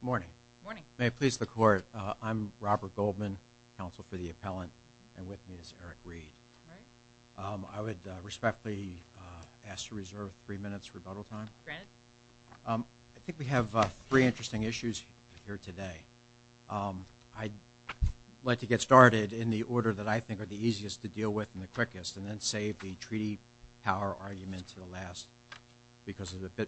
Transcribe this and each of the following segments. Good morning. May it please the court, I'm Robert Goldman, counsel for the appellant and with me is Eric Reed. I would respectfully ask to reserve three minutes rebuttal time. I think we have three interesting issues here today. I'd like to get started in the order that I think are the easiest to deal with and the quickest and then save the treaty power argument to the last because of the time.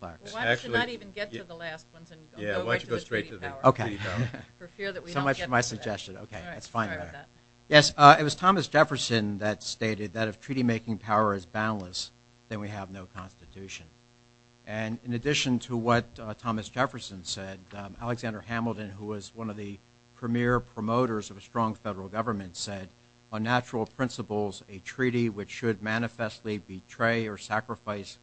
Why don't you not even get to the last ones and go straight to the treaty power for fear that we don't get to that. Yes, it was Thomas Jefferson that stated that if treaty making power is boundless then we have no constitution. And in addition to what Thomas Jefferson said, Alexander Hamilton who was one of the premier promoters of a strong federal government said on natural principles a treaty which should manifestly betray or sacrifice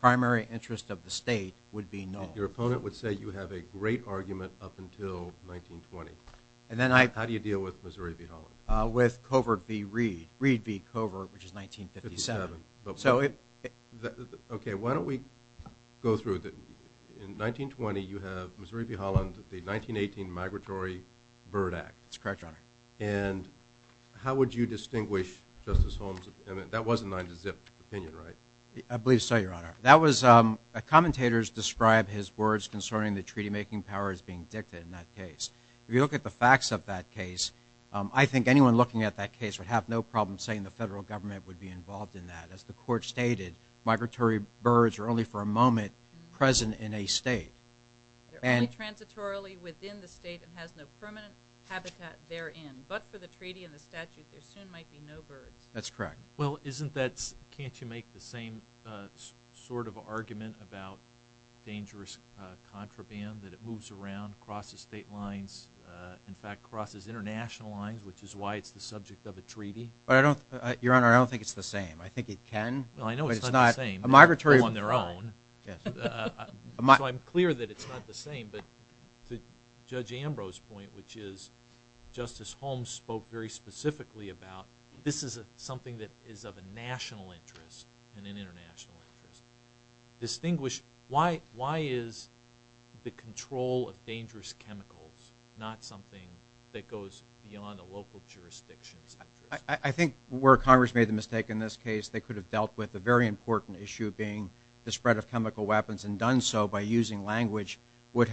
primary interest of the state would be null. Your opponent would say you have a great argument up until 1920. How do you deal with Missouri v. Holland? With covert v. Reed, Reed v. Covert which is 1957. Okay, why don't we go through. In 1920 you have Missouri v. Holland, the 1918 Migratory Bird Act. That's correct, Your Honor. And how would you distinguish Justice Holmes, that was a nine to zip opinion, right? I believe so, Your Honor. That was, commentators described his words concerning the treaty making power as being dictated in that case. If you look at the facts of that case, I think anyone looking at that case would have no problem saying the federal government would be involved in that. As the court stated, migratory birds are only for a moment present in a state. They're only transitorily within the state and has no permanent habitat therein. But for the treaty and the statute there soon might be no birds. That's correct. Well, isn't that, can't you make the same sort of argument about dangerous contraband that it moves around, crosses state lines, in fact crosses international lines which is why it's the subject of a treaty? Your Honor, I don't think it's the same. I think it can. Well, I know it's not the same. But it's not a migratory bird. On their own. Yes. So I'm clear that it's not the same. But to Judge Ambrose's point which is Justice Holmes spoke very specifically about this is something that is of a national interest and an international interest. Distinguish, why is the control of dangerous chemicals not something that goes beyond a local jurisdiction's interest? I think where Congress made the mistake in this case they could have dealt with a very important issue being the spread of chemical weapons and done so by using language which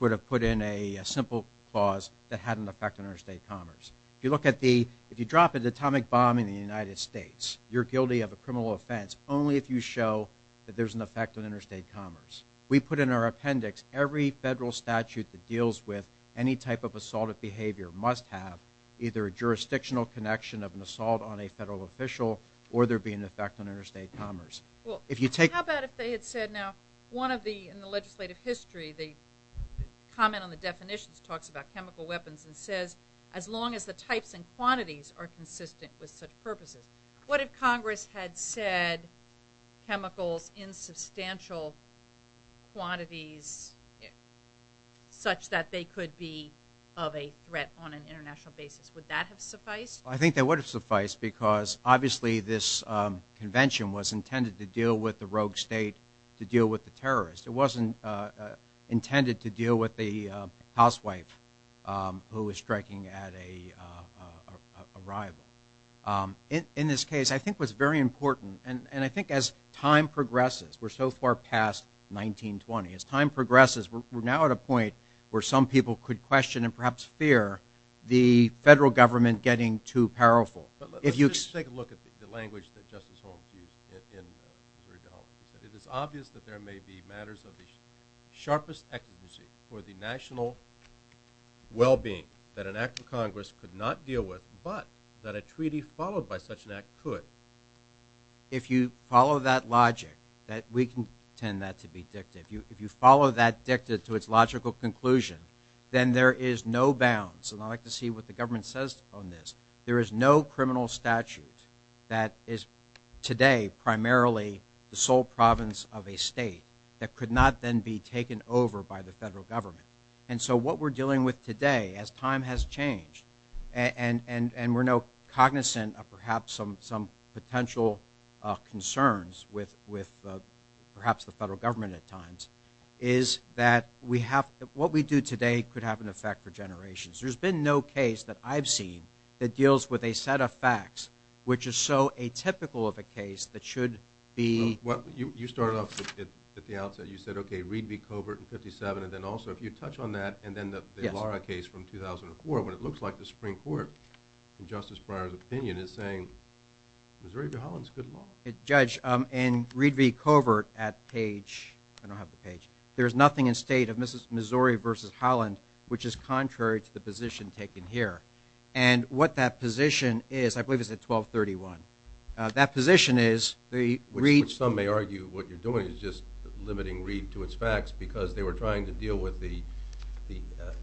would have put in a simple clause that had an effect on interstate commerce. If you look at the, if you drop an atomic bomb in the United States, you're guilty of a criminal offense only if you show that there's an effect on interstate commerce. We put in our appendix every federal statute that deals with any type of assaultive behavior must have either a jurisdictional connection of an assault on a federal official or there be an effect on interstate commerce. Well, how about if they had said now one of the, in the legislative history, the comment on the definitions talks about chemical weapons and says as long as the types and quantities are consistent with such purposes. What if Congress had said chemicals in substantial quantities such that they could be of a threat on an international basis? Would that have sufficed? I think that would have sufficed because obviously this convention was intended to deal with the rogue state to deal with the terrorists. It wasn't intended to deal with the housewife who was striking at a rival. In this case, I think what's very important and I think as time progresses, we're so far past 1920. As time progresses, we're now at a point where some people could question and perhaps fear the federal government getting too powerful. Let's just take a look at the language that Justice Holmes used in Missouri-Dallas. He said, it is obvious that there may be matters of the sharpest efficacy for the national well-being that an act of Congress could not deal with but that a treaty followed by such an act could. If you follow that logic, we can tend that to be dictative. If you follow that dictative to its logical conclusion, then there is no bounds. I'd like to see what the government says on this. There is no criminal statute that is today primarily the sole province of a state that could not then be taken over by the federal government. What we're dealing with today as time has changed and we're now cognizant of perhaps some potential concerns with perhaps the federal government at times is that what we do today could have an effect for generations. There's been no case that I've seen that deals with a set of facts which is so atypical of a case that should be… You started off at the outset. You said, okay, Reed v. Covert in 57 and then also if you touch on that and then the Lara case from 2004 when it looks like the Supreme Court in Justice Breyer's opinion is saying Missouri v. Holland is good law. Judge, in Reed v. Covert at page – I don't have the page – there's nothing in state of Missouri v. Holland which is contrary to the position taken here. And what that position is, I believe it's at 1231. That position is the Reed – Which some may argue what you're doing is just limiting Reed to its facts because they were trying to deal with the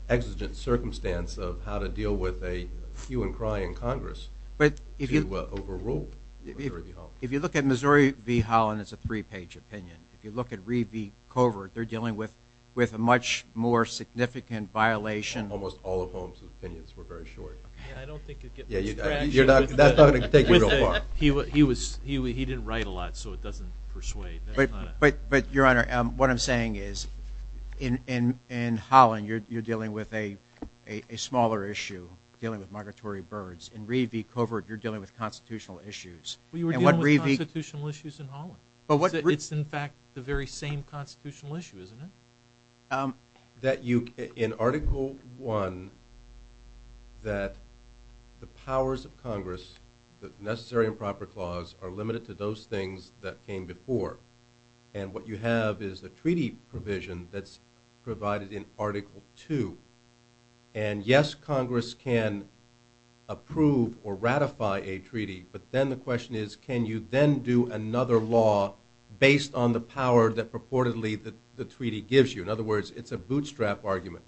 exigent circumstance of how to deal with a hue and cry in Congress to overrule Missouri v. Holland. If you look at Missouri v. Holland, it's a three-page opinion. If you look at Reed v. Covert, they're dealing with a much more significant violation – Almost all of Holmes' opinions were very short. Yeah, I don't think it gets this traction. That's not going to take you real far. He didn't write a lot so it doesn't persuade. But, Your Honor, what I'm saying is in Holland, you're dealing with a smaller issue, dealing with migratory birds. In Reed v. Covert, you're dealing with constitutional issues. You were dealing with constitutional issues in Holland. It's in fact the very same constitutional issue, isn't it? That you – in Article I, that the powers of Congress, the Necessary and Proper Clause, are limited to those things that came before. And what you have is a treaty provision that's provided in Article II. And yes, Congress can approve or ratify a treaty, but then the question is, can you then do another law based on the power that purportedly the treaty gives you? In other words, it's a bootstrap argument.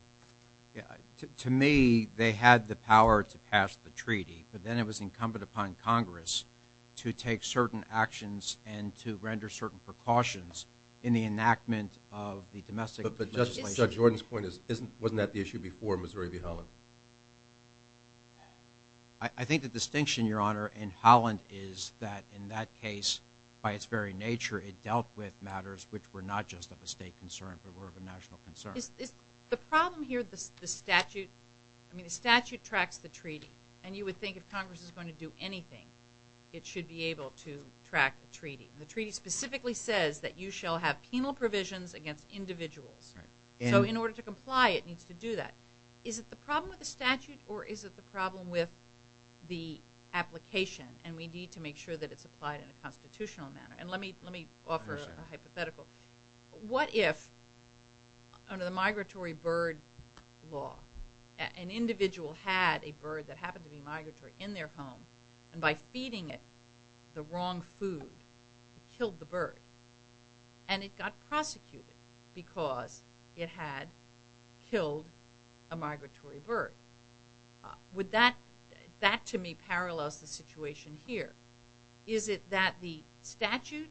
To me, they had the power to pass the treaty, but then it was incumbent upon Congress to take certain actions and to render certain precautions in the enactment of the domestic legislation. Judge Jordan's point is, wasn't that the issue before Missouri v. Holland? I think the distinction, Your Honor, in Holland is that in that case, by its very nature, it dealt with matters which were not just of a state concern, but were of a national concern. The problem here, the statute – I mean, the statute tracks the treaty. And you would think if Congress is going to do anything, it should be able to track a treaty. The treaty specifically says that you shall have penal provisions against individuals. So in order to comply, it needs to do that. Is it the problem with the statute, or is it the problem with the application? And we need to make sure that it's applied in a constitutional manner. And let me offer a hypothetical. What if under the migratory bird law, an individual had a bird that happened to be migratory in their home, and by feeding it the wrong food, it killed the bird? And it got prosecuted because it had killed a migratory bird. That, to me, parallels the situation here. Is it that the statute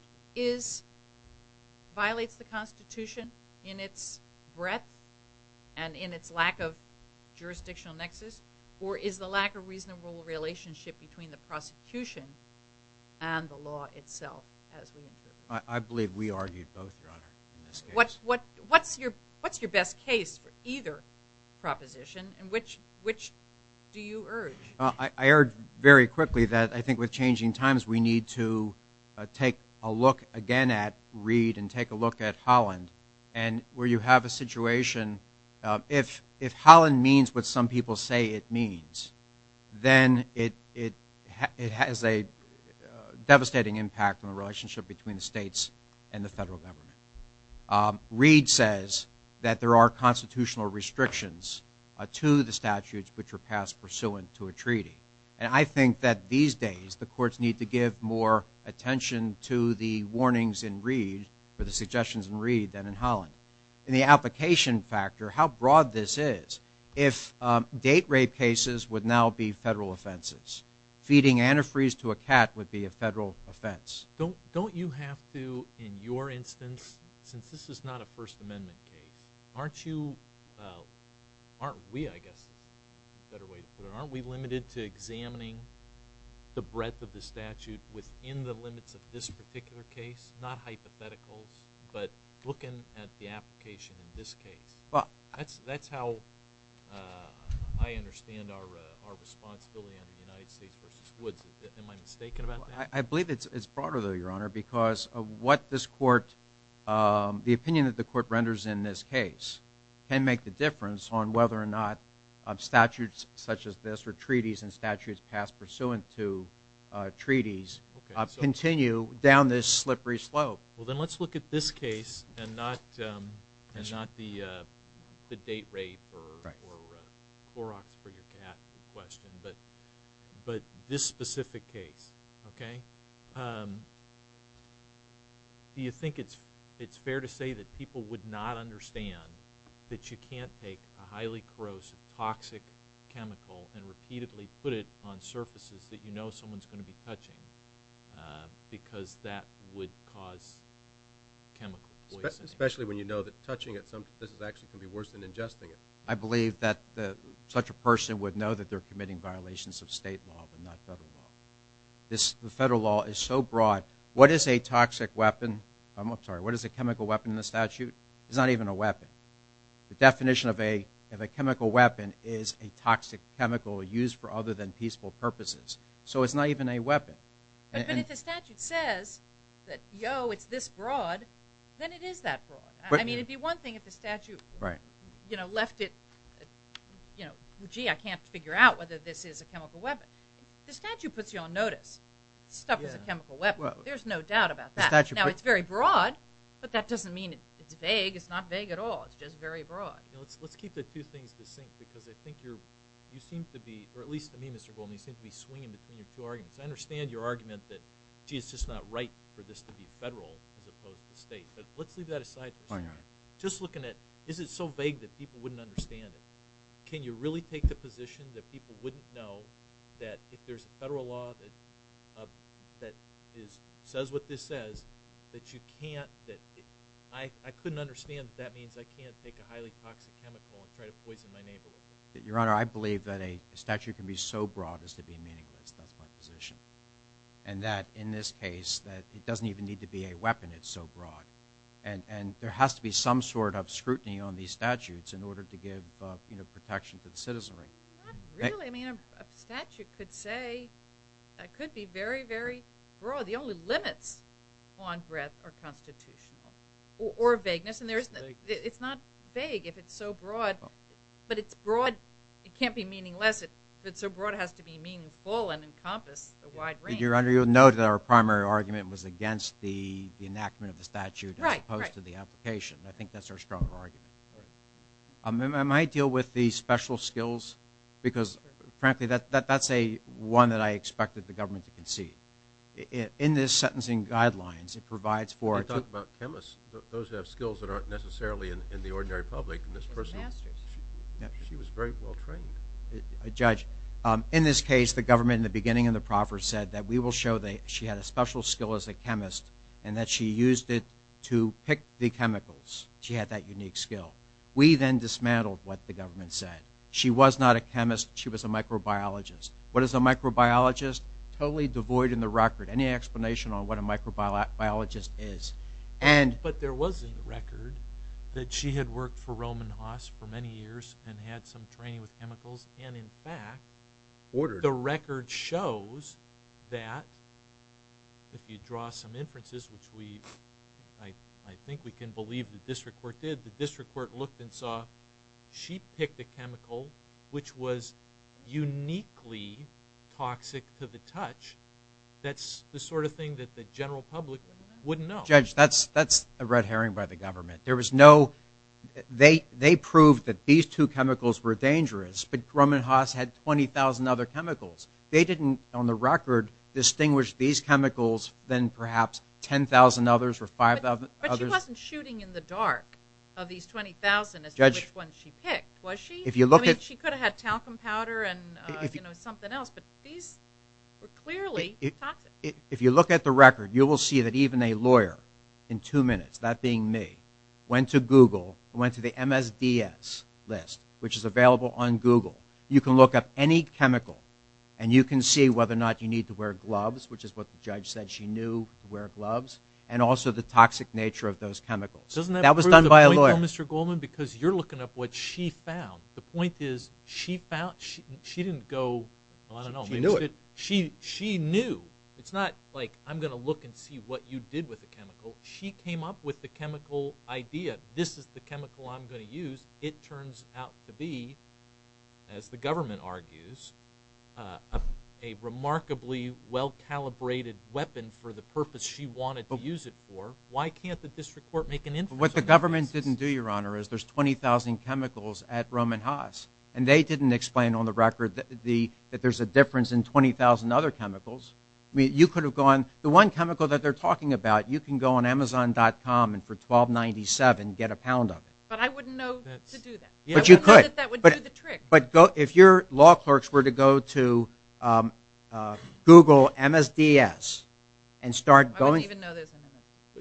violates the Constitution in its breadth and in its lack of jurisdictional nexus? Or is the lack of reasonable relationship between the prosecution and the law itself, as we interpret it? I believe we argued both, Your Honor, in this case. What's your best case for either proposition, and which do you urge? I urge very quickly that I think with changing times, we need to take a look again at Reed and take a look at Holland, where you have a situation. If Holland means what some people say it means, then it has a devastating impact on the relationship between the states and the federal government. Reed says that there are constitutional restrictions to the statutes which are passed pursuant to a treaty. And I think that these days the courts need to give more attention to the warnings in Reed, and the application factor, how broad this is. If date rape cases would now be federal offenses, feeding antifreeze to a cat would be a federal offense. Don't you have to, in your instance, since this is not a First Amendment case, aren't you, aren't we, I guess is a better way to put it, aren't we limited to examining the breadth of the statute within the limits of this particular case? Not hypotheticals, but looking at the application in this case. That's how I understand our responsibility under the United States v. Woods. Am I mistaken about that? I believe it's broader, though, Your Honor, because of what this court, the opinion that the court renders in this case can make the difference on whether or not statutes such as this, or treaties and statutes passed pursuant to treaties continue down this slippery slope. Then let's look at this case and not the date rape or Clorox for your cat question, but this specific case. Do you think it's fair to say that people would not understand that you can't take a highly corrosive toxic chemical and repeatedly put it on surfaces that you know someone's going to be touching because that would cause chemical poisoning? Especially when you know that touching it, this is actually going to be worse than ingesting it. I believe that such a person would know that they're committing violations of state law but not federal law. The federal law is so broad. What is a toxic weapon, I'm sorry, what is a chemical weapon in the statute? It's not even a weapon. The definition of a chemical weapon is a toxic chemical used for other than peaceful purposes. So it's not even a weapon. But if the statute says that, yo, it's this broad, then it is that broad. I mean, it would be one thing if the statute left it, you know, gee, I can't figure out whether this is a chemical weapon. The statute puts you on notice. Stuff is a chemical weapon. There's no doubt about that. Now, it's very broad, but that doesn't mean it's vague. It's not vague at all. It's just very broad. Let's keep the two things in sync because I think you seem to be, or at least to me, Mr. Goldman, you seem to be swinging between your two arguments. I understand your argument that, gee, it's just not right for this to be federal as opposed to state, but let's leave that aside for a second. Just looking at is it so vague that people wouldn't understand it. Can you really take the position that people wouldn't know that if there's a federal law that says what this says that you can't, that I couldn't understand that that means I can't take a highly toxic chemical and try to poison my neighbor with it? Your Honor, I believe that a statute can be so broad as to be meaningless. That's my position. And that in this case, it doesn't even need to be a weapon. It's so broad. And there has to be some sort of scrutiny on these statutes in order to give protection to the citizenry. Not really. I mean, a statute could say, could be very, very broad. The only limits on breadth are constitutional or vagueness. And it's not vague if it's so broad. But it's broad. It can't be meaningless. If it's so broad, it has to be meaningful and encompass the wide range. Your Honor, you'll note that our primary argument was against the enactment of the statute as opposed to the application. I think that's our stronger argument. Am I deal with the special skills? Because, frankly, that's one that I expected the government to concede. In this sentencing guidelines, it provides for – You're talking about chemists, those who have skills that aren't necessarily in the ordinary public. She was very well trained. Judge, in this case, the government in the beginning of the proffer said that we will show that she had a special skill as a chemist and that she used it to pick the chemicals. She had that unique skill. We then dismantled what the government said. She was not a chemist. She was a microbiologist. What is a microbiologist? Totally devoid in the record any explanation on what a microbiologist is. But there was a record that she had worked for Roman Haas for many years and had some training with chemicals. And, in fact, the record shows that if you draw some inferences, which I think we can believe the district court did, the district court looked and saw she picked a chemical which was uniquely toxic to the touch. That's the sort of thing that the general public wouldn't know. Judge, that's a red herring by the government. They proved that these two chemicals were dangerous, but Roman Haas had 20,000 other chemicals. They didn't, on the record, distinguish these chemicals from perhaps 10,000 others or 5,000 others. But she wasn't shooting in the dark of these 20,000 as to which one she picked, was she? I mean, she could have had talcum powder and something else, but these were clearly toxic. If you look at the record, you will see that even a lawyer, in two minutes, that being me, went to Google, went to the MSDS list, which is available on Google. You can look up any chemical, and you can see whether or not you need to wear gloves, which is what the judge said she knew to wear gloves, and also the toxic nature of those chemicals. Doesn't that prove the point, though, Mr. Goldman? Because you're looking up what she found. The point is she found, she didn't go, I don't know. She knew it. It's not like I'm going to look and see what you did with the chemical. She came up with the chemical idea. This is the chemical I'm going to use. It turns out to be, as the government argues, a remarkably well-calibrated weapon for the purpose she wanted to use it for. Why can't the district court make an inference on that? What the government didn't do, Your Honor, is there's 20,000 chemicals at Roman Haas, and they didn't explain, on the record, that there's a difference in 20,000 other chemicals. I mean, you could have gone, the one chemical that they're talking about, you can go on Amazon.com and for $12.97 get a pound of it. But I wouldn't know to do that. But you could. I wouldn't know that that would do the trick. But if your law clerks were to go to Google MSDS and start going. I wouldn't even know there's an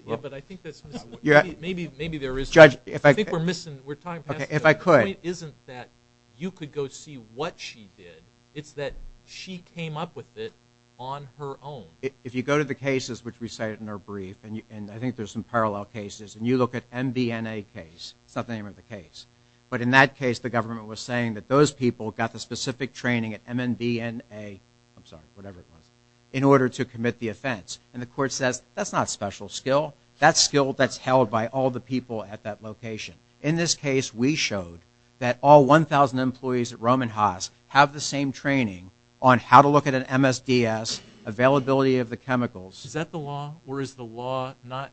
MSDS. But I think that's missing. Maybe there is. Judge, if I could. I think we're missing, we're talking past the point. If I could. The point isn't that you could go see what she did. It's that she came up with it on her own. If you go to the cases, which we cited in our brief, and I think there's some parallel cases, and you look at MBNA case, it's not the name of the case, but in that case the government was saying that those people got the specific training at MBNA, I'm sorry, whatever it was, in order to commit the offense. And the court says, that's not special skill. That's skill that's held by all the people at that location. In this case we showed that all 1,000 employees at Roman Haas have the same training on how to look at an MSDS, availability of the chemicals. Is that the law? Or is the law not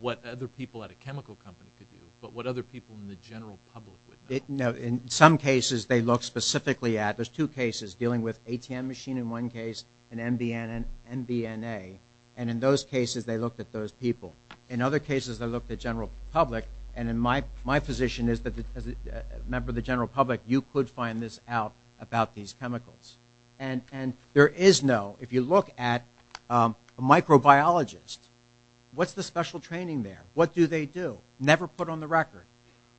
what other people at a chemical company could do, but what other people in the general public would know? In some cases they look specifically at, there's two cases, dealing with ATM machine in one case and MBNA. And in those cases they looked at those people. In other cases they looked at general public, and my position is that as a member of the general public, you could find this out about these chemicals. And there is no, if you look at a microbiologist, what's the special training there? What do they do? Never put on the record.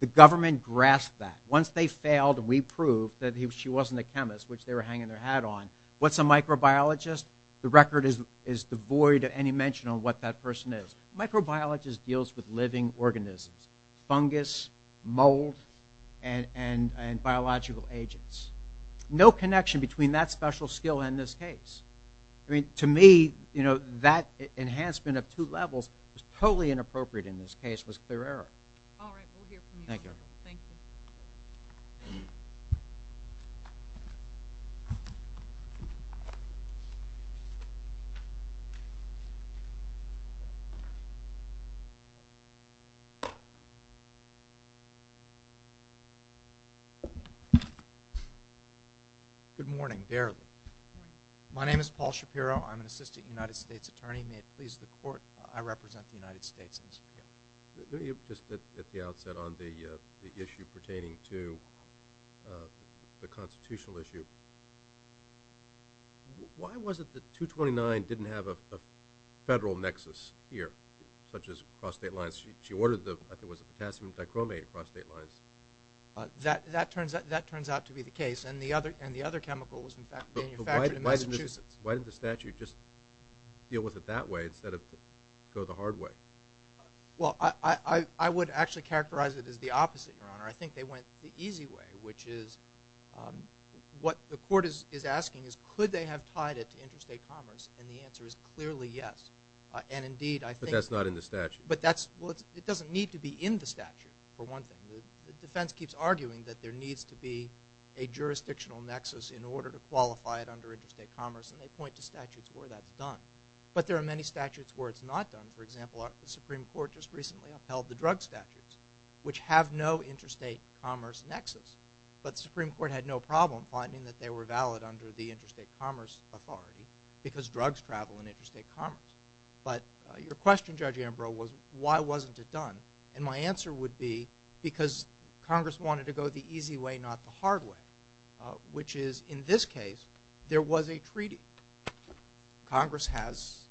The government grasped that. Once they failed and we proved that she wasn't a chemist, which they were hanging their hat on, what's a microbiologist? The record is devoid of any mention of what that person is. Microbiologist deals with living organisms, fungus, mold, and biological agents. No connection between that special skill and this case. I mean, to me, you know, that enhancement of two levels was totally inappropriate in this case, was clear error. All right, we'll hear from you. Thank you. Thank you. Good morning. My name is Paul Shapiro. I'm an assistant United States attorney. May it please the court, I represent the United States. Just at the outset on the issue pertaining to the constitutional issue, why was it that 229 didn't have a federal nexus here, such as across state lines? She ordered the, I think it was the potassium dichromate across state lines. That turns out to be the case, and the other chemical was manufactured in Massachusetts. Why didn't the statute just deal with it that way instead of go the hard way? Well, I would actually characterize it as the opposite, Your Honor. I think they went the easy way, which is what the court is asking is could they have tied it to interstate commerce, and the answer is clearly yes. But that's not in the statute. Well, it doesn't need to be in the statute, for one thing. The defense keeps arguing that there needs to be a jurisdictional nexus in order to qualify it under interstate commerce, and they point to statutes where that's done. But there are many statutes where it's not done. For example, the Supreme Court just recently upheld the drug statutes, which have no interstate commerce nexus. But the Supreme Court had no problem finding that they were valid under the Interstate Commerce Authority because drugs travel in interstate commerce. But your question, Judge Ambrose, was why wasn't it done, and my answer would be because Congress wanted to go the easy way, not the hard way, which is in this case there was a treaty. Congress has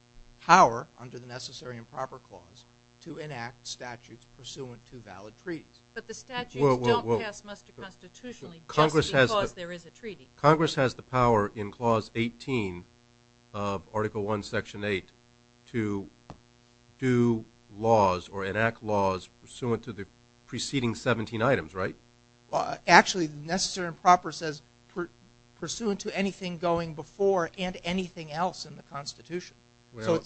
power under the Necessary and Proper Clause to enact statutes pursuant to valid treaties. But the statutes don't pass muster constitutionally just because there is a treaty. Congress has the power in Clause 18 of Article I, Section 8 to do laws or enact laws pursuant to the preceding 17 items, right? Actually, Necessary and Proper says pursuant to anything going before and anything else in the Constitution. Well,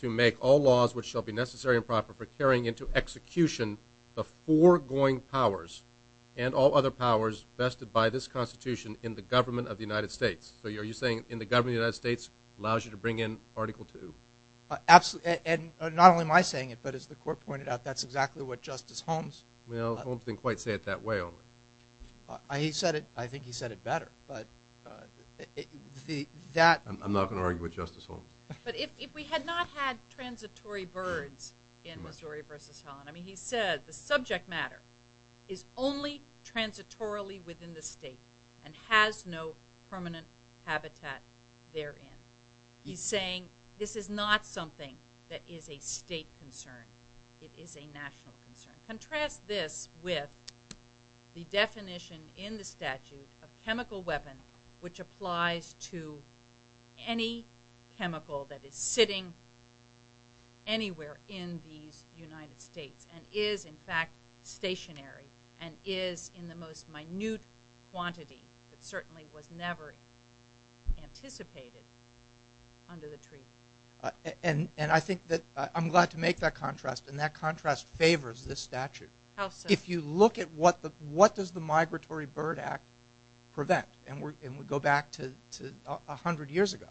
to make all laws which shall be necessary and proper for carrying into execution the foregoing powers and all other powers vested by this Constitution in the government of the United States. So are you saying in the government of the United States allows you to bring in Article II? Absolutely, and not only am I saying it, but as the Court pointed out, that's exactly what Justice Holmes— Well, Holmes didn't quite say it that way, only. He said it—I think he said it better, but that— I'm not going to argue with Justice Holmes. But if we had not had transitory birds in Missouri v. Holland, I mean, he said the subject matter is only transitorily within the state and has no permanent habitat therein. He's saying this is not something that is a state concern. It is a national concern. Contrast this with the definition in the statute of chemical weapon which applies to any chemical that is sitting anywhere in these United States and is, in fact, stationary and is in the most minute quantity that certainly was never anticipated under the treaty. And I think that—I'm glad to make that contrast, and that contrast favors this statute. How so? If you look at what does the Migratory Bird Act prevent, and we go back to 100 years ago,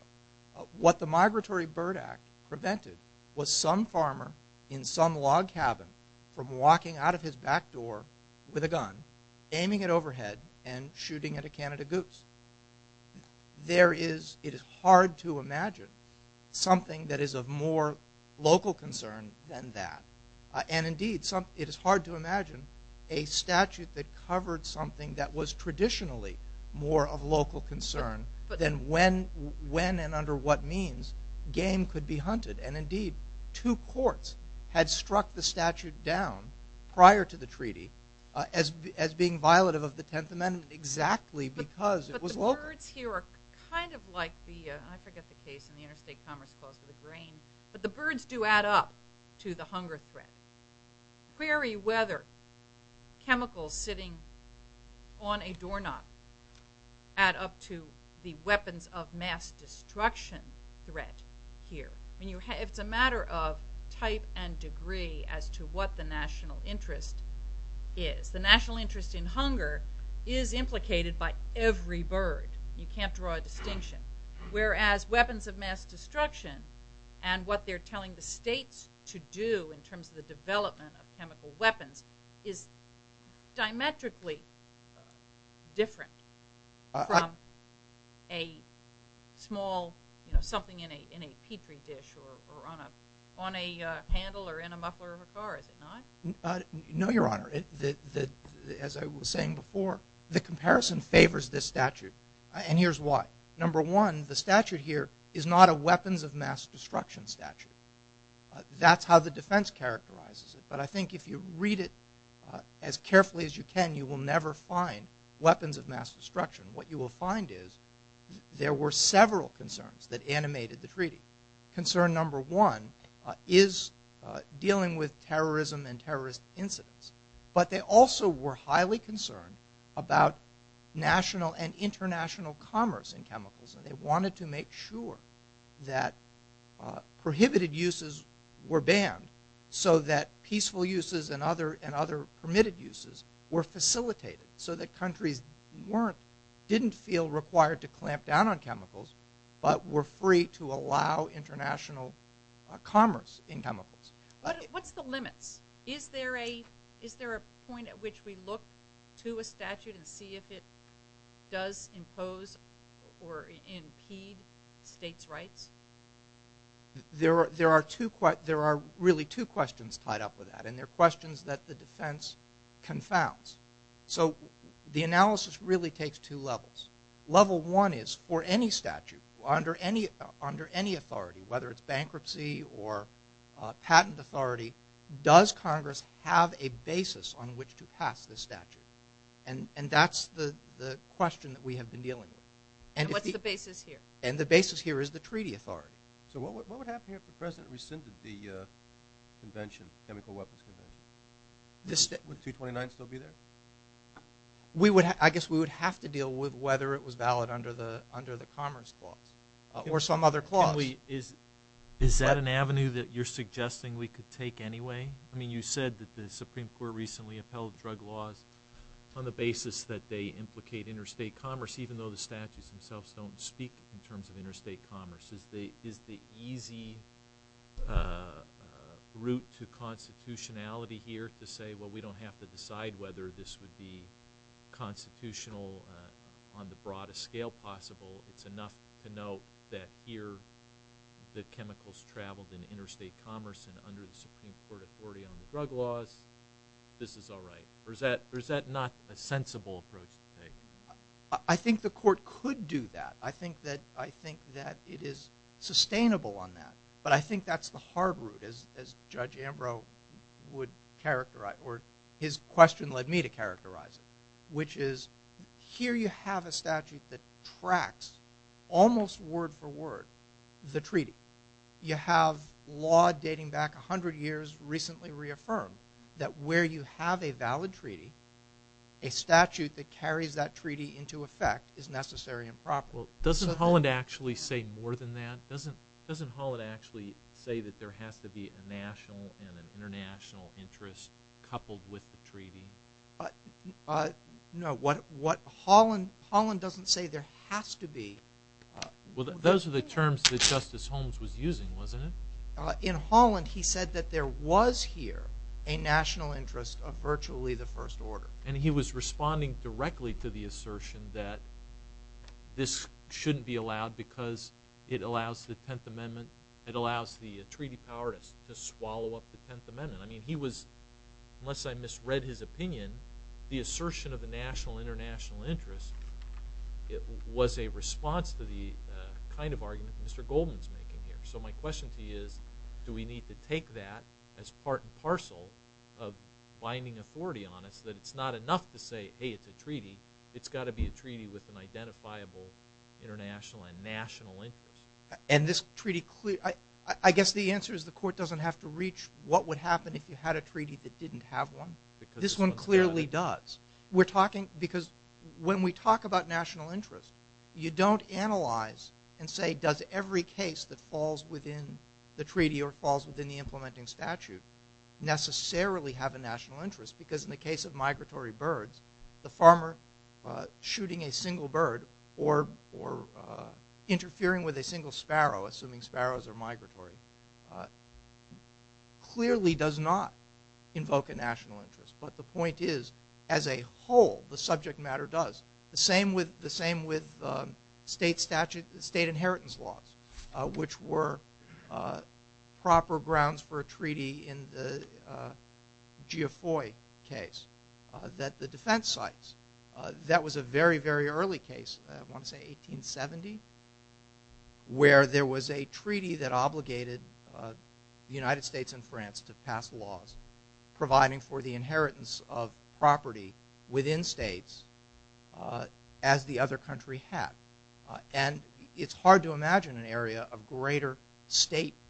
what the Migratory Bird Act prevented was some farmer in some log cabin from walking out of his back door with a gun, aiming it overhead, and shooting at a Canada goose. There is—it is hard to imagine something that is of more local concern than that. And, indeed, it is hard to imagine a statute that covered something that was traditionally more of local concern than when and under what means game could be hunted. And, indeed, two courts had struck the statute down prior to the treaty as being violative of the Tenth Amendment exactly because it was local. But the birds here are kind of like the—I forget the case in the Interstate Commerce Clause for the grain—but the birds do add up to the hunger threat. Query whether chemicals sitting on a doorknob add up to the weapons of mass destruction threat here. It's a matter of type and degree as to what the national interest is. The national interest in hunger is implicated by every bird. You can't draw a distinction. Whereas weapons of mass destruction and what they're telling the states to do in terms of the development of chemical weapons is diametrically different from a small—something in a Petri dish or on a handle or in a muffler of a car, is it not? No, Your Honor. As I was saying before, the comparison favors this statute, and here's why. Number one, the statute here is not a weapons of mass destruction statute. That's how the defense characterizes it. But I think if you read it as carefully as you can, you will never find weapons of mass destruction. What you will find is there were several concerns that animated the treaty. Concern number one is dealing with terrorism and terrorist incidents. But they also were highly concerned about national and international commerce in chemicals, and they wanted to make sure that prohibited uses were banned so that peaceful uses and other permitted uses were facilitated so that countries didn't feel required to clamp down on chemicals What's the limits? Is there a point at which we look to a statute and see if it does impose or impede states' rights? There are really two questions tied up with that, and they're questions that the defense confounds. So the analysis really takes two levels. Level one is for any statute under any authority, whether it's bankruptcy or patent authority, does Congress have a basis on which to pass this statute? And that's the question that we have been dealing with. And what's the basis here? And the basis here is the treaty authority. So what would happen here if the president rescinded the chemical weapons convention? Would 229 still be there? I guess we would have to deal with whether it was valid under the Commerce Clause or some other clause. Is that an avenue that you're suggesting we could take anyway? I mean, you said that the Supreme Court recently upheld drug laws on the basis that they implicate interstate commerce, even though the statutes themselves don't speak in terms of interstate commerce. Is the easy route to constitutionality here to say, well, we don't have to decide whether this would be constitutional on the broadest scale possible? It's enough to note that here the chemicals traveled in interstate commerce and under the Supreme Court authority on the drug laws. This is all right. Or is that not a sensible approach to take? I think the Court could do that. I think that it is sustainable on that. But I think that's the hard route, as Judge Ambrose would characterize or his question led me to characterize it, which is here you have a statute that tracks almost word for word the treaty. You have law dating back 100 years recently reaffirmed that where you have a valid treaty, a statute that carries that treaty into effect is necessary and proper. Well, doesn't Holland actually say more than that? Doesn't Holland actually say that there has to be a national and an international interest coupled with the treaty? No. Holland doesn't say there has to be. Well, those are the terms that Justice Holmes was using, wasn't it? In Holland, he said that there was here a national interest of virtually the first order. And he was responding directly to the assertion that this shouldn't be allowed because it allows the Tenth Amendment, it allows the treaty power to swallow up the Tenth Amendment. I mean, he was, unless I misread his opinion, the assertion of a national, international interest was a response to the kind of argument that Mr. Goldman is making here. So my question to you is do we need to take that as part and parcel of binding authority on us that it's not enough to say, hey, it's a treaty. It's got to be a treaty with an identifiable international and national interest. And this treaty, I guess the answer is the court doesn't have to reach what would happen if you had a treaty that didn't have one. This one clearly does. Because when we talk about national interest, you don't analyze and say does every case that falls within the treaty or falls within the implementing statute necessarily have a national interest. Because in the case of migratory birds, the farmer shooting a single bird or interfering with a single sparrow, assuming sparrows are migratory, clearly does not invoke a national interest. But the point is, as a whole, the subject matter does. The same with state inheritance laws, which were proper grounds for a treaty in the Geoffroy case that the defense cites. That was a very, very early case, I want to say 1870, where there was a treaty that obligated the United States and France to pass laws providing for the inheritance of property within states as the other country had. And it's hard to imagine an area of greater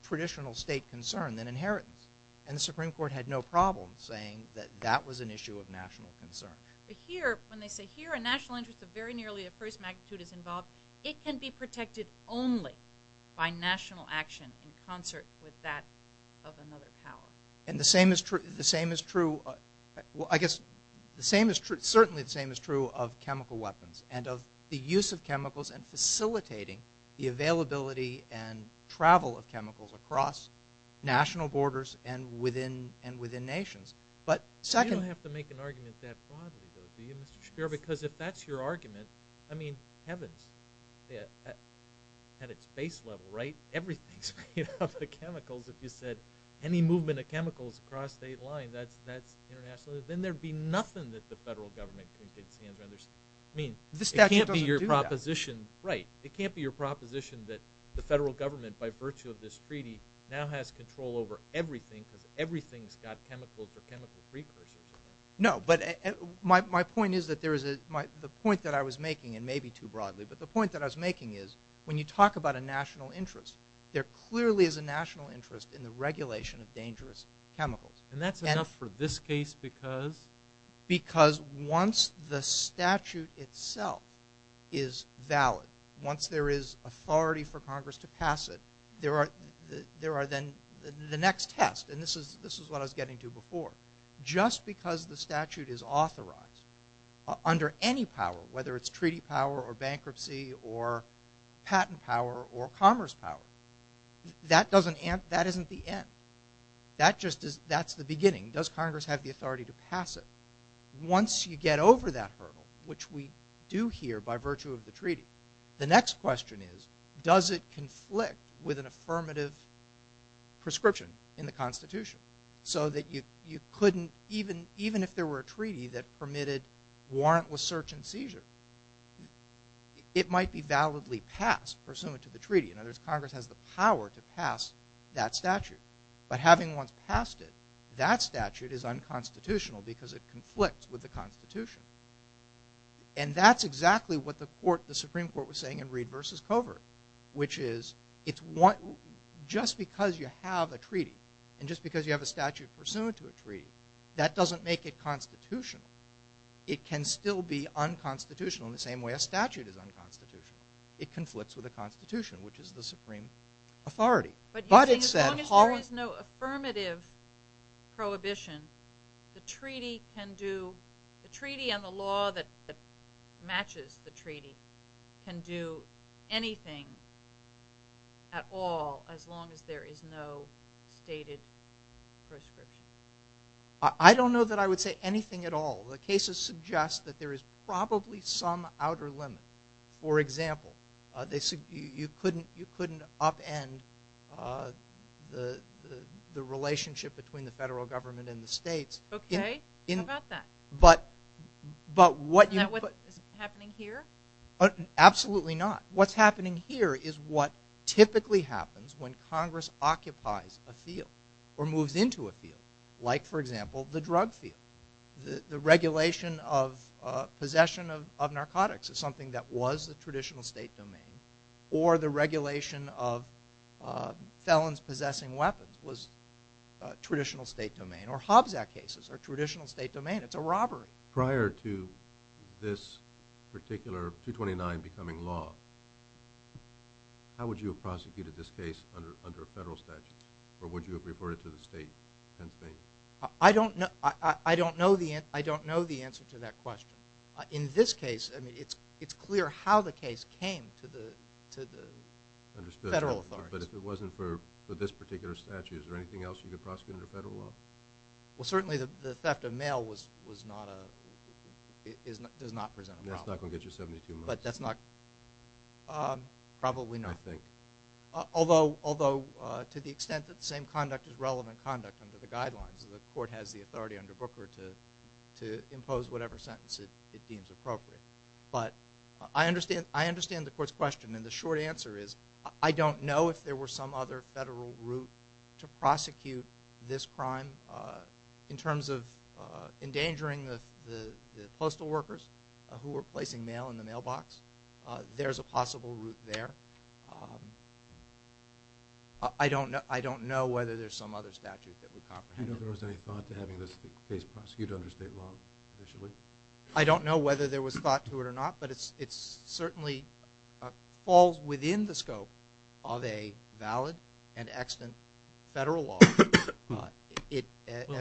traditional state concern than inheritance. And the Supreme Court had no problem saying that that was an issue of national concern. But here, when they say here a national interest of very nearly the first magnitude is involved, it can be protected only by national action in concert with that of another power. And the same is true, I guess, certainly the same is true of chemical weapons and of the use of chemicals and facilitating the availability and travel of chemicals across national borders and within nations. But second – You don't have to make an argument that broadly, though, do you, Mr. Shapiro? Because if that's your argument, I mean, heavens, at its base level, right, everything's made up of chemicals. If you said any movement of chemicals across state line, that's international, then there'd be nothing that the federal government can get its hands around. I mean, it can't be your proposition – This statute doesn't do that. Right. It can't be your proposition that the federal government, by virtue of this treaty, now has control over everything because everything's got chemicals or chemical precursors. No, but my point is that there is a – the point that I was making, and maybe too broadly, but the point that I was making is when you talk about a national interest, there clearly is a national interest in the regulation of dangerous chemicals. And that's enough for this case because? Because once the statute itself is valid, once there is authority for Congress to pass it, there are then the next test, and this is what I was getting to before. Just because the statute is authorized under any power, whether it's treaty power or bankruptcy or patent power or commerce power, that isn't the end. That's the beginning. Does Congress have the authority to pass it? Once you get over that hurdle, which we do here by virtue of the treaty, the next question is does it conflict with an affirmative prescription in the Constitution so that you couldn't, even if there were a treaty that permitted warrantless search and seizure, it might be validly passed pursuant to the treaty. In other words, Congress has the power to pass that statute. But having once passed it, that statute is unconstitutional because it conflicts with the Constitution. And that's exactly what the Supreme Court was saying in Reed v. Covert, which is just because you have a treaty and just because you have a statute pursuant to a treaty, that doesn't make it constitutional. It can still be unconstitutional in the same way a statute is unconstitutional. It conflicts with the Constitution, which is the supreme authority. But you're saying as long as there is no affirmative prohibition, the treaty and the law that matches the treaty can do anything at all as long as there is no stated prescription? I don't know that I would say anything at all. The cases suggest that there is probably some outer limit. For example, you couldn't upend the relationship between the federal government and the states. Okay. How about that? But what you put... Isn't that what's happening here? Absolutely not. What's happening here is what typically happens when Congress occupies a field or moves into a field, like, for example, the drug field. The regulation of possession of narcotics is something that was the traditional state domain or the regulation of felons possessing weapons was a traditional state domain or Hobbs Act cases are traditional state domain. It's a robbery. Prior to this particular 229 becoming law, how would you have prosecuted this case under federal statute or would you have referred it to the state? I don't know the answer to that question. In this case, it's clear how the case came to the federal authorities. But if it wasn't for this particular statute, is there anything else you could prosecute under federal law? Well, certainly the theft of mail does not present a problem. That's not going to get you 72 months. But that's not... probably not. I think. Although to the extent that the same conduct is relevant conduct under the guidelines, the court has the authority under Booker to impose whatever sentence it deems appropriate. But I understand the court's question, and the short answer is, I don't know if there were some other federal route to prosecute this crime. In terms of endangering the postal workers who were placing mail in the mailbox, there's a possible route there. I don't know whether there's some other statute that would comprehend it. Do you know if there was any thought to having this case prosecuted under state law initially? I don't know whether there was thought to it or not, but it certainly falls within the scope of a valid and extant federal law. Well,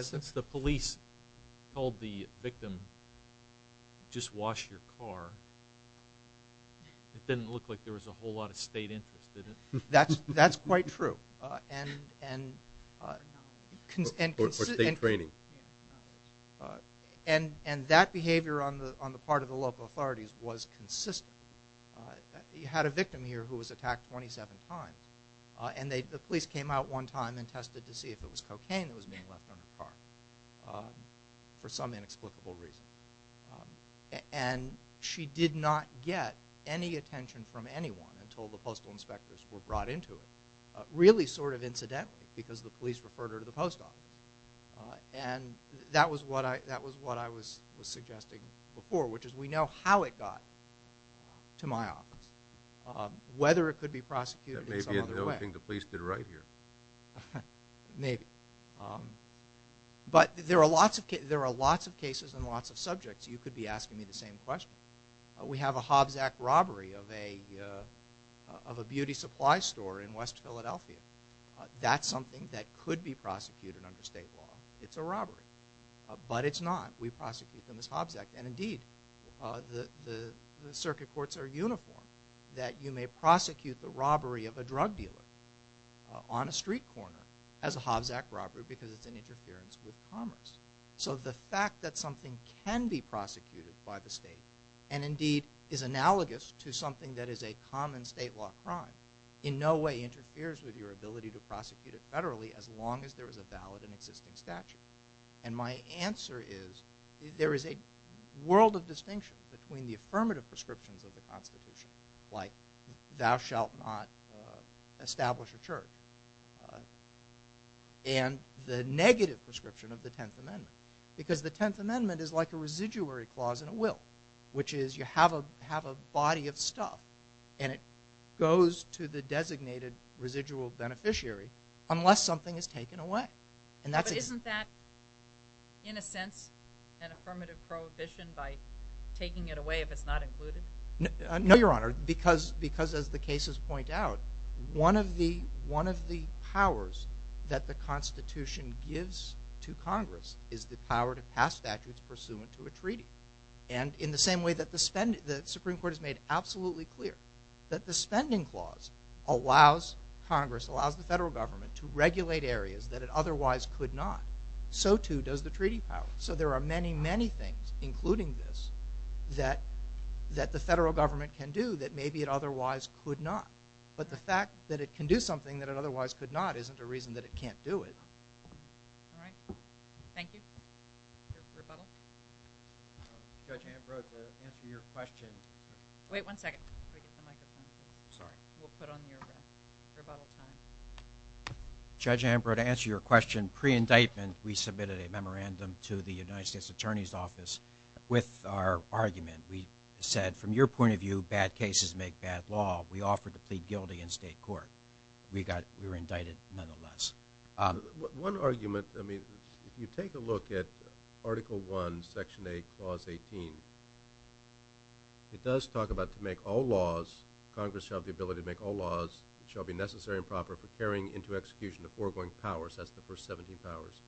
since the police told the victim, just wash your car, it didn't look like there was a whole lot of state interest, did it? That's quite true. Or state training. And that behavior on the part of the local authorities was consistent. You had a victim here who was attacked 27 times, and the police came out one time and tested to see if it was cocaine that was being left on her car for some inexplicable reason. And she did not get any attention from anyone until the postal inspectors were brought into it, really sort of incidentally, because the police referred her to the post office. And that was what I was suggesting before, which is we know how it got to my office. Whether it could be prosecuted in some other way. That may be another thing the police did right here. Maybe. But there are lots of cases and lots of subjects. You could be asking me the same question. We have a Hobbs Act robbery of a beauty supply store in West Philadelphia. That's something that could be prosecuted under state law. It's a robbery. But it's not. We prosecute them as Hobbs Act. And indeed, the circuit courts are uniform that you may prosecute the robbery of a drug dealer on a street corner as a Hobbs Act robbery because it's an interference with commerce. So the fact that something can be prosecuted by the state, and indeed is analogous to something that is a common state law crime, in no way interferes with your ability to prosecute it federally as long as there is a valid and existing statute. And my answer is there is a world of distinction between the affirmative prescriptions of the Constitution, like thou shalt not establish a church, and the negative prescription of the Tenth Amendment. Because the Tenth Amendment is like a residuary clause in a will, which is you have a body of stuff, and it goes to the designated residual beneficiary unless something is taken away. Isn't that, in a sense, an affirmative prohibition by taking it away if it's not included? No, Your Honor, because as the cases point out, one of the powers that the Constitution gives to Congress is the power to pass statutes pursuant to a treaty. And in the same way that the Supreme Court has made absolutely clear that the spending clause allows Congress, allows the federal government, to regulate areas that it otherwise could not, so too does the treaty power. So there are many, many things, including this, that the federal government can do that maybe it otherwise could not. But the fact that it can do something that it otherwise could not isn't a reason that it can't do it. All right. Thank you. Rebuttal? Judge Anabro, to answer your question... Wait one second. Sorry. We'll put on the rebuttal time. Judge Anabro, to answer your question, pre-indictment we submitted a memorandum to the United States Attorney's Office with our argument. We said, from your point of view, bad cases make bad law. We offered to plead guilty in state court. We were indicted nonetheless. One argument, I mean, if you take a look at Article I, Section 8, Clause 18, it does talk about to make all laws, Congress shall have the ability to make all laws, shall be necessary and proper for carrying into execution the foregoing powers, that's the first 17 powers.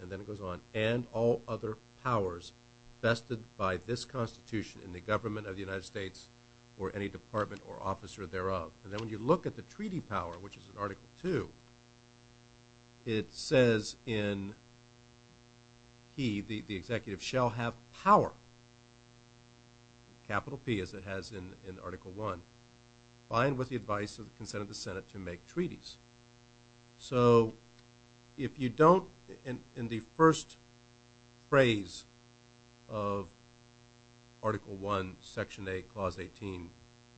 And then it goes on, and all other powers vested by this Constitution in the government of the United States or any department or officer thereof. And then when you look at the treaty power, which is in Article II, it says in he, the executive, shall have power, capital P as it has in Article I, fine with the advice of the consent of the Senate to make treaties. So if you don't, in the first phrase of Article I, Section 8, Clause 18,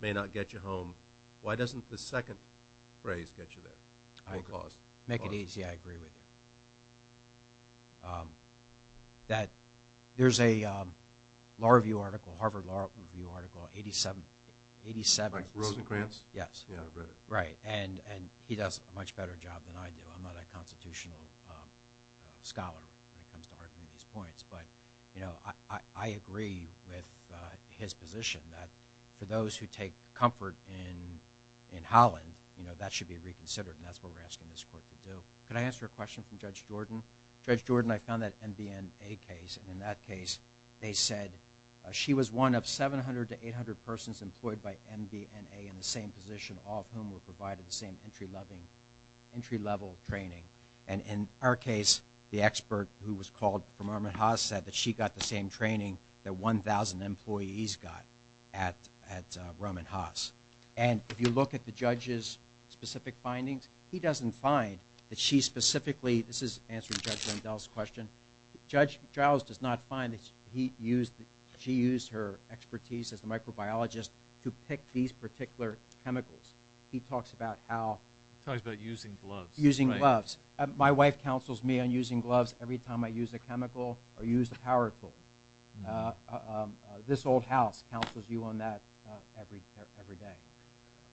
may not get you home, why doesn't the second phrase get you there? I agree. Make it easy, I agree with you. That there's a law review article, Harvard Law Review Article 87. Rosencrantz? Yes. Yeah, I've read it. Right, and he does a much better job than I do. I'm not a constitutional scholar when it comes to arguing these points. But, you know, I agree with his position that for those who take comfort in Holland, you know, that should be reconsidered. And that's what we're asking this court to do. Could I answer a question from Judge Jordan? Judge Jordan, I found that MBNA case. And in that case, they said she was one of 700 to 800 persons employed by MBNA in the same position, all of whom were provided the same entry-level training. And in our case, the expert who was called from Roman Haas said that she got the same training that 1,000 employees got at Roman Haas. And if you look at the judge's specific findings, he doesn't find that she specifically, this is answering Judge Rendell's question, Judge Giles does not find that she used her expertise as a microbiologist to pick these particular chemicals. He talks about how… He talks about using gloves. Using gloves. My wife counsels me on using gloves every time I use a chemical or use a power tool. This old house counsels you on that every day.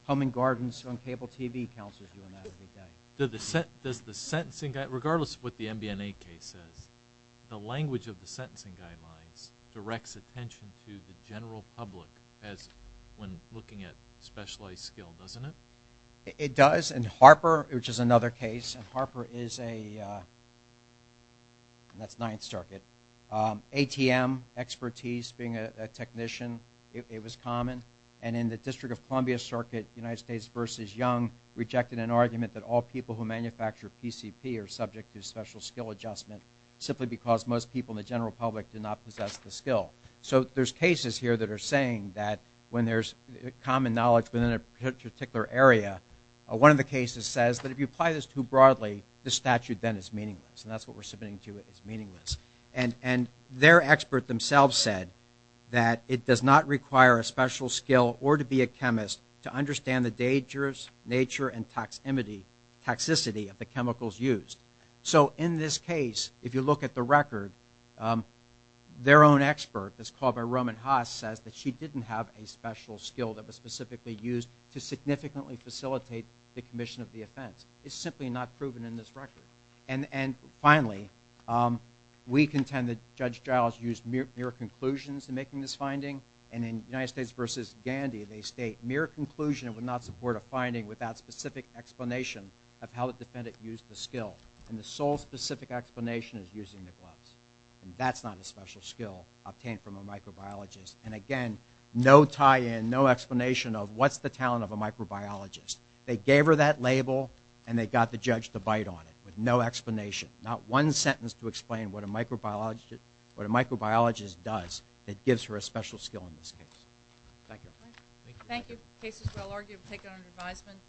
Home and Gardens on cable TV counsels you on that every day. Does the sentencing guide, regardless of what the MBNA case says, the language of the sentencing guidelines directs attention to the general public as when looking at specialized skill, doesn't it? It does. And Harper, which is another case, and Harper is a… ATM expertise, being a technician, it was common. And in the District of Columbia Circuit, United States v. Young, rejected an argument that all people who manufacture PCP are subject to special skill adjustment simply because most people in the general public do not possess the skill. So there's cases here that are saying that when there's common knowledge within a particular area, one of the cases says that if you apply this too broadly, the statute then is meaningless, and that's what we're submitting to is meaningless. And their expert themselves said that it does not require a special skill or to be a chemist to understand the dangerous nature and toxicity of the chemicals used. So in this case, if you look at the record, their own expert that's called by Roman Haas says that she didn't have a special skill that was specifically used to significantly facilitate the commission of the offense. It's simply not proven in this record. And finally, we contend that Judge Giles used mere conclusions in making this finding. And in United States v. Gandhi, they state, mere conclusion would not support a finding without specific explanation of how the defendant used the skill. And the sole specific explanation is using the gloves. And that's not a special skill obtained from a microbiologist. And again, no tie-in, no explanation of what's the talent of a microbiologist. They gave her that label, and they got the judge to bite on it with no explanation, not one sentence to explain what a microbiologist does that gives her a special skill in this case. Thank you. Thank you. The case is well argued. We'll take it under advisement.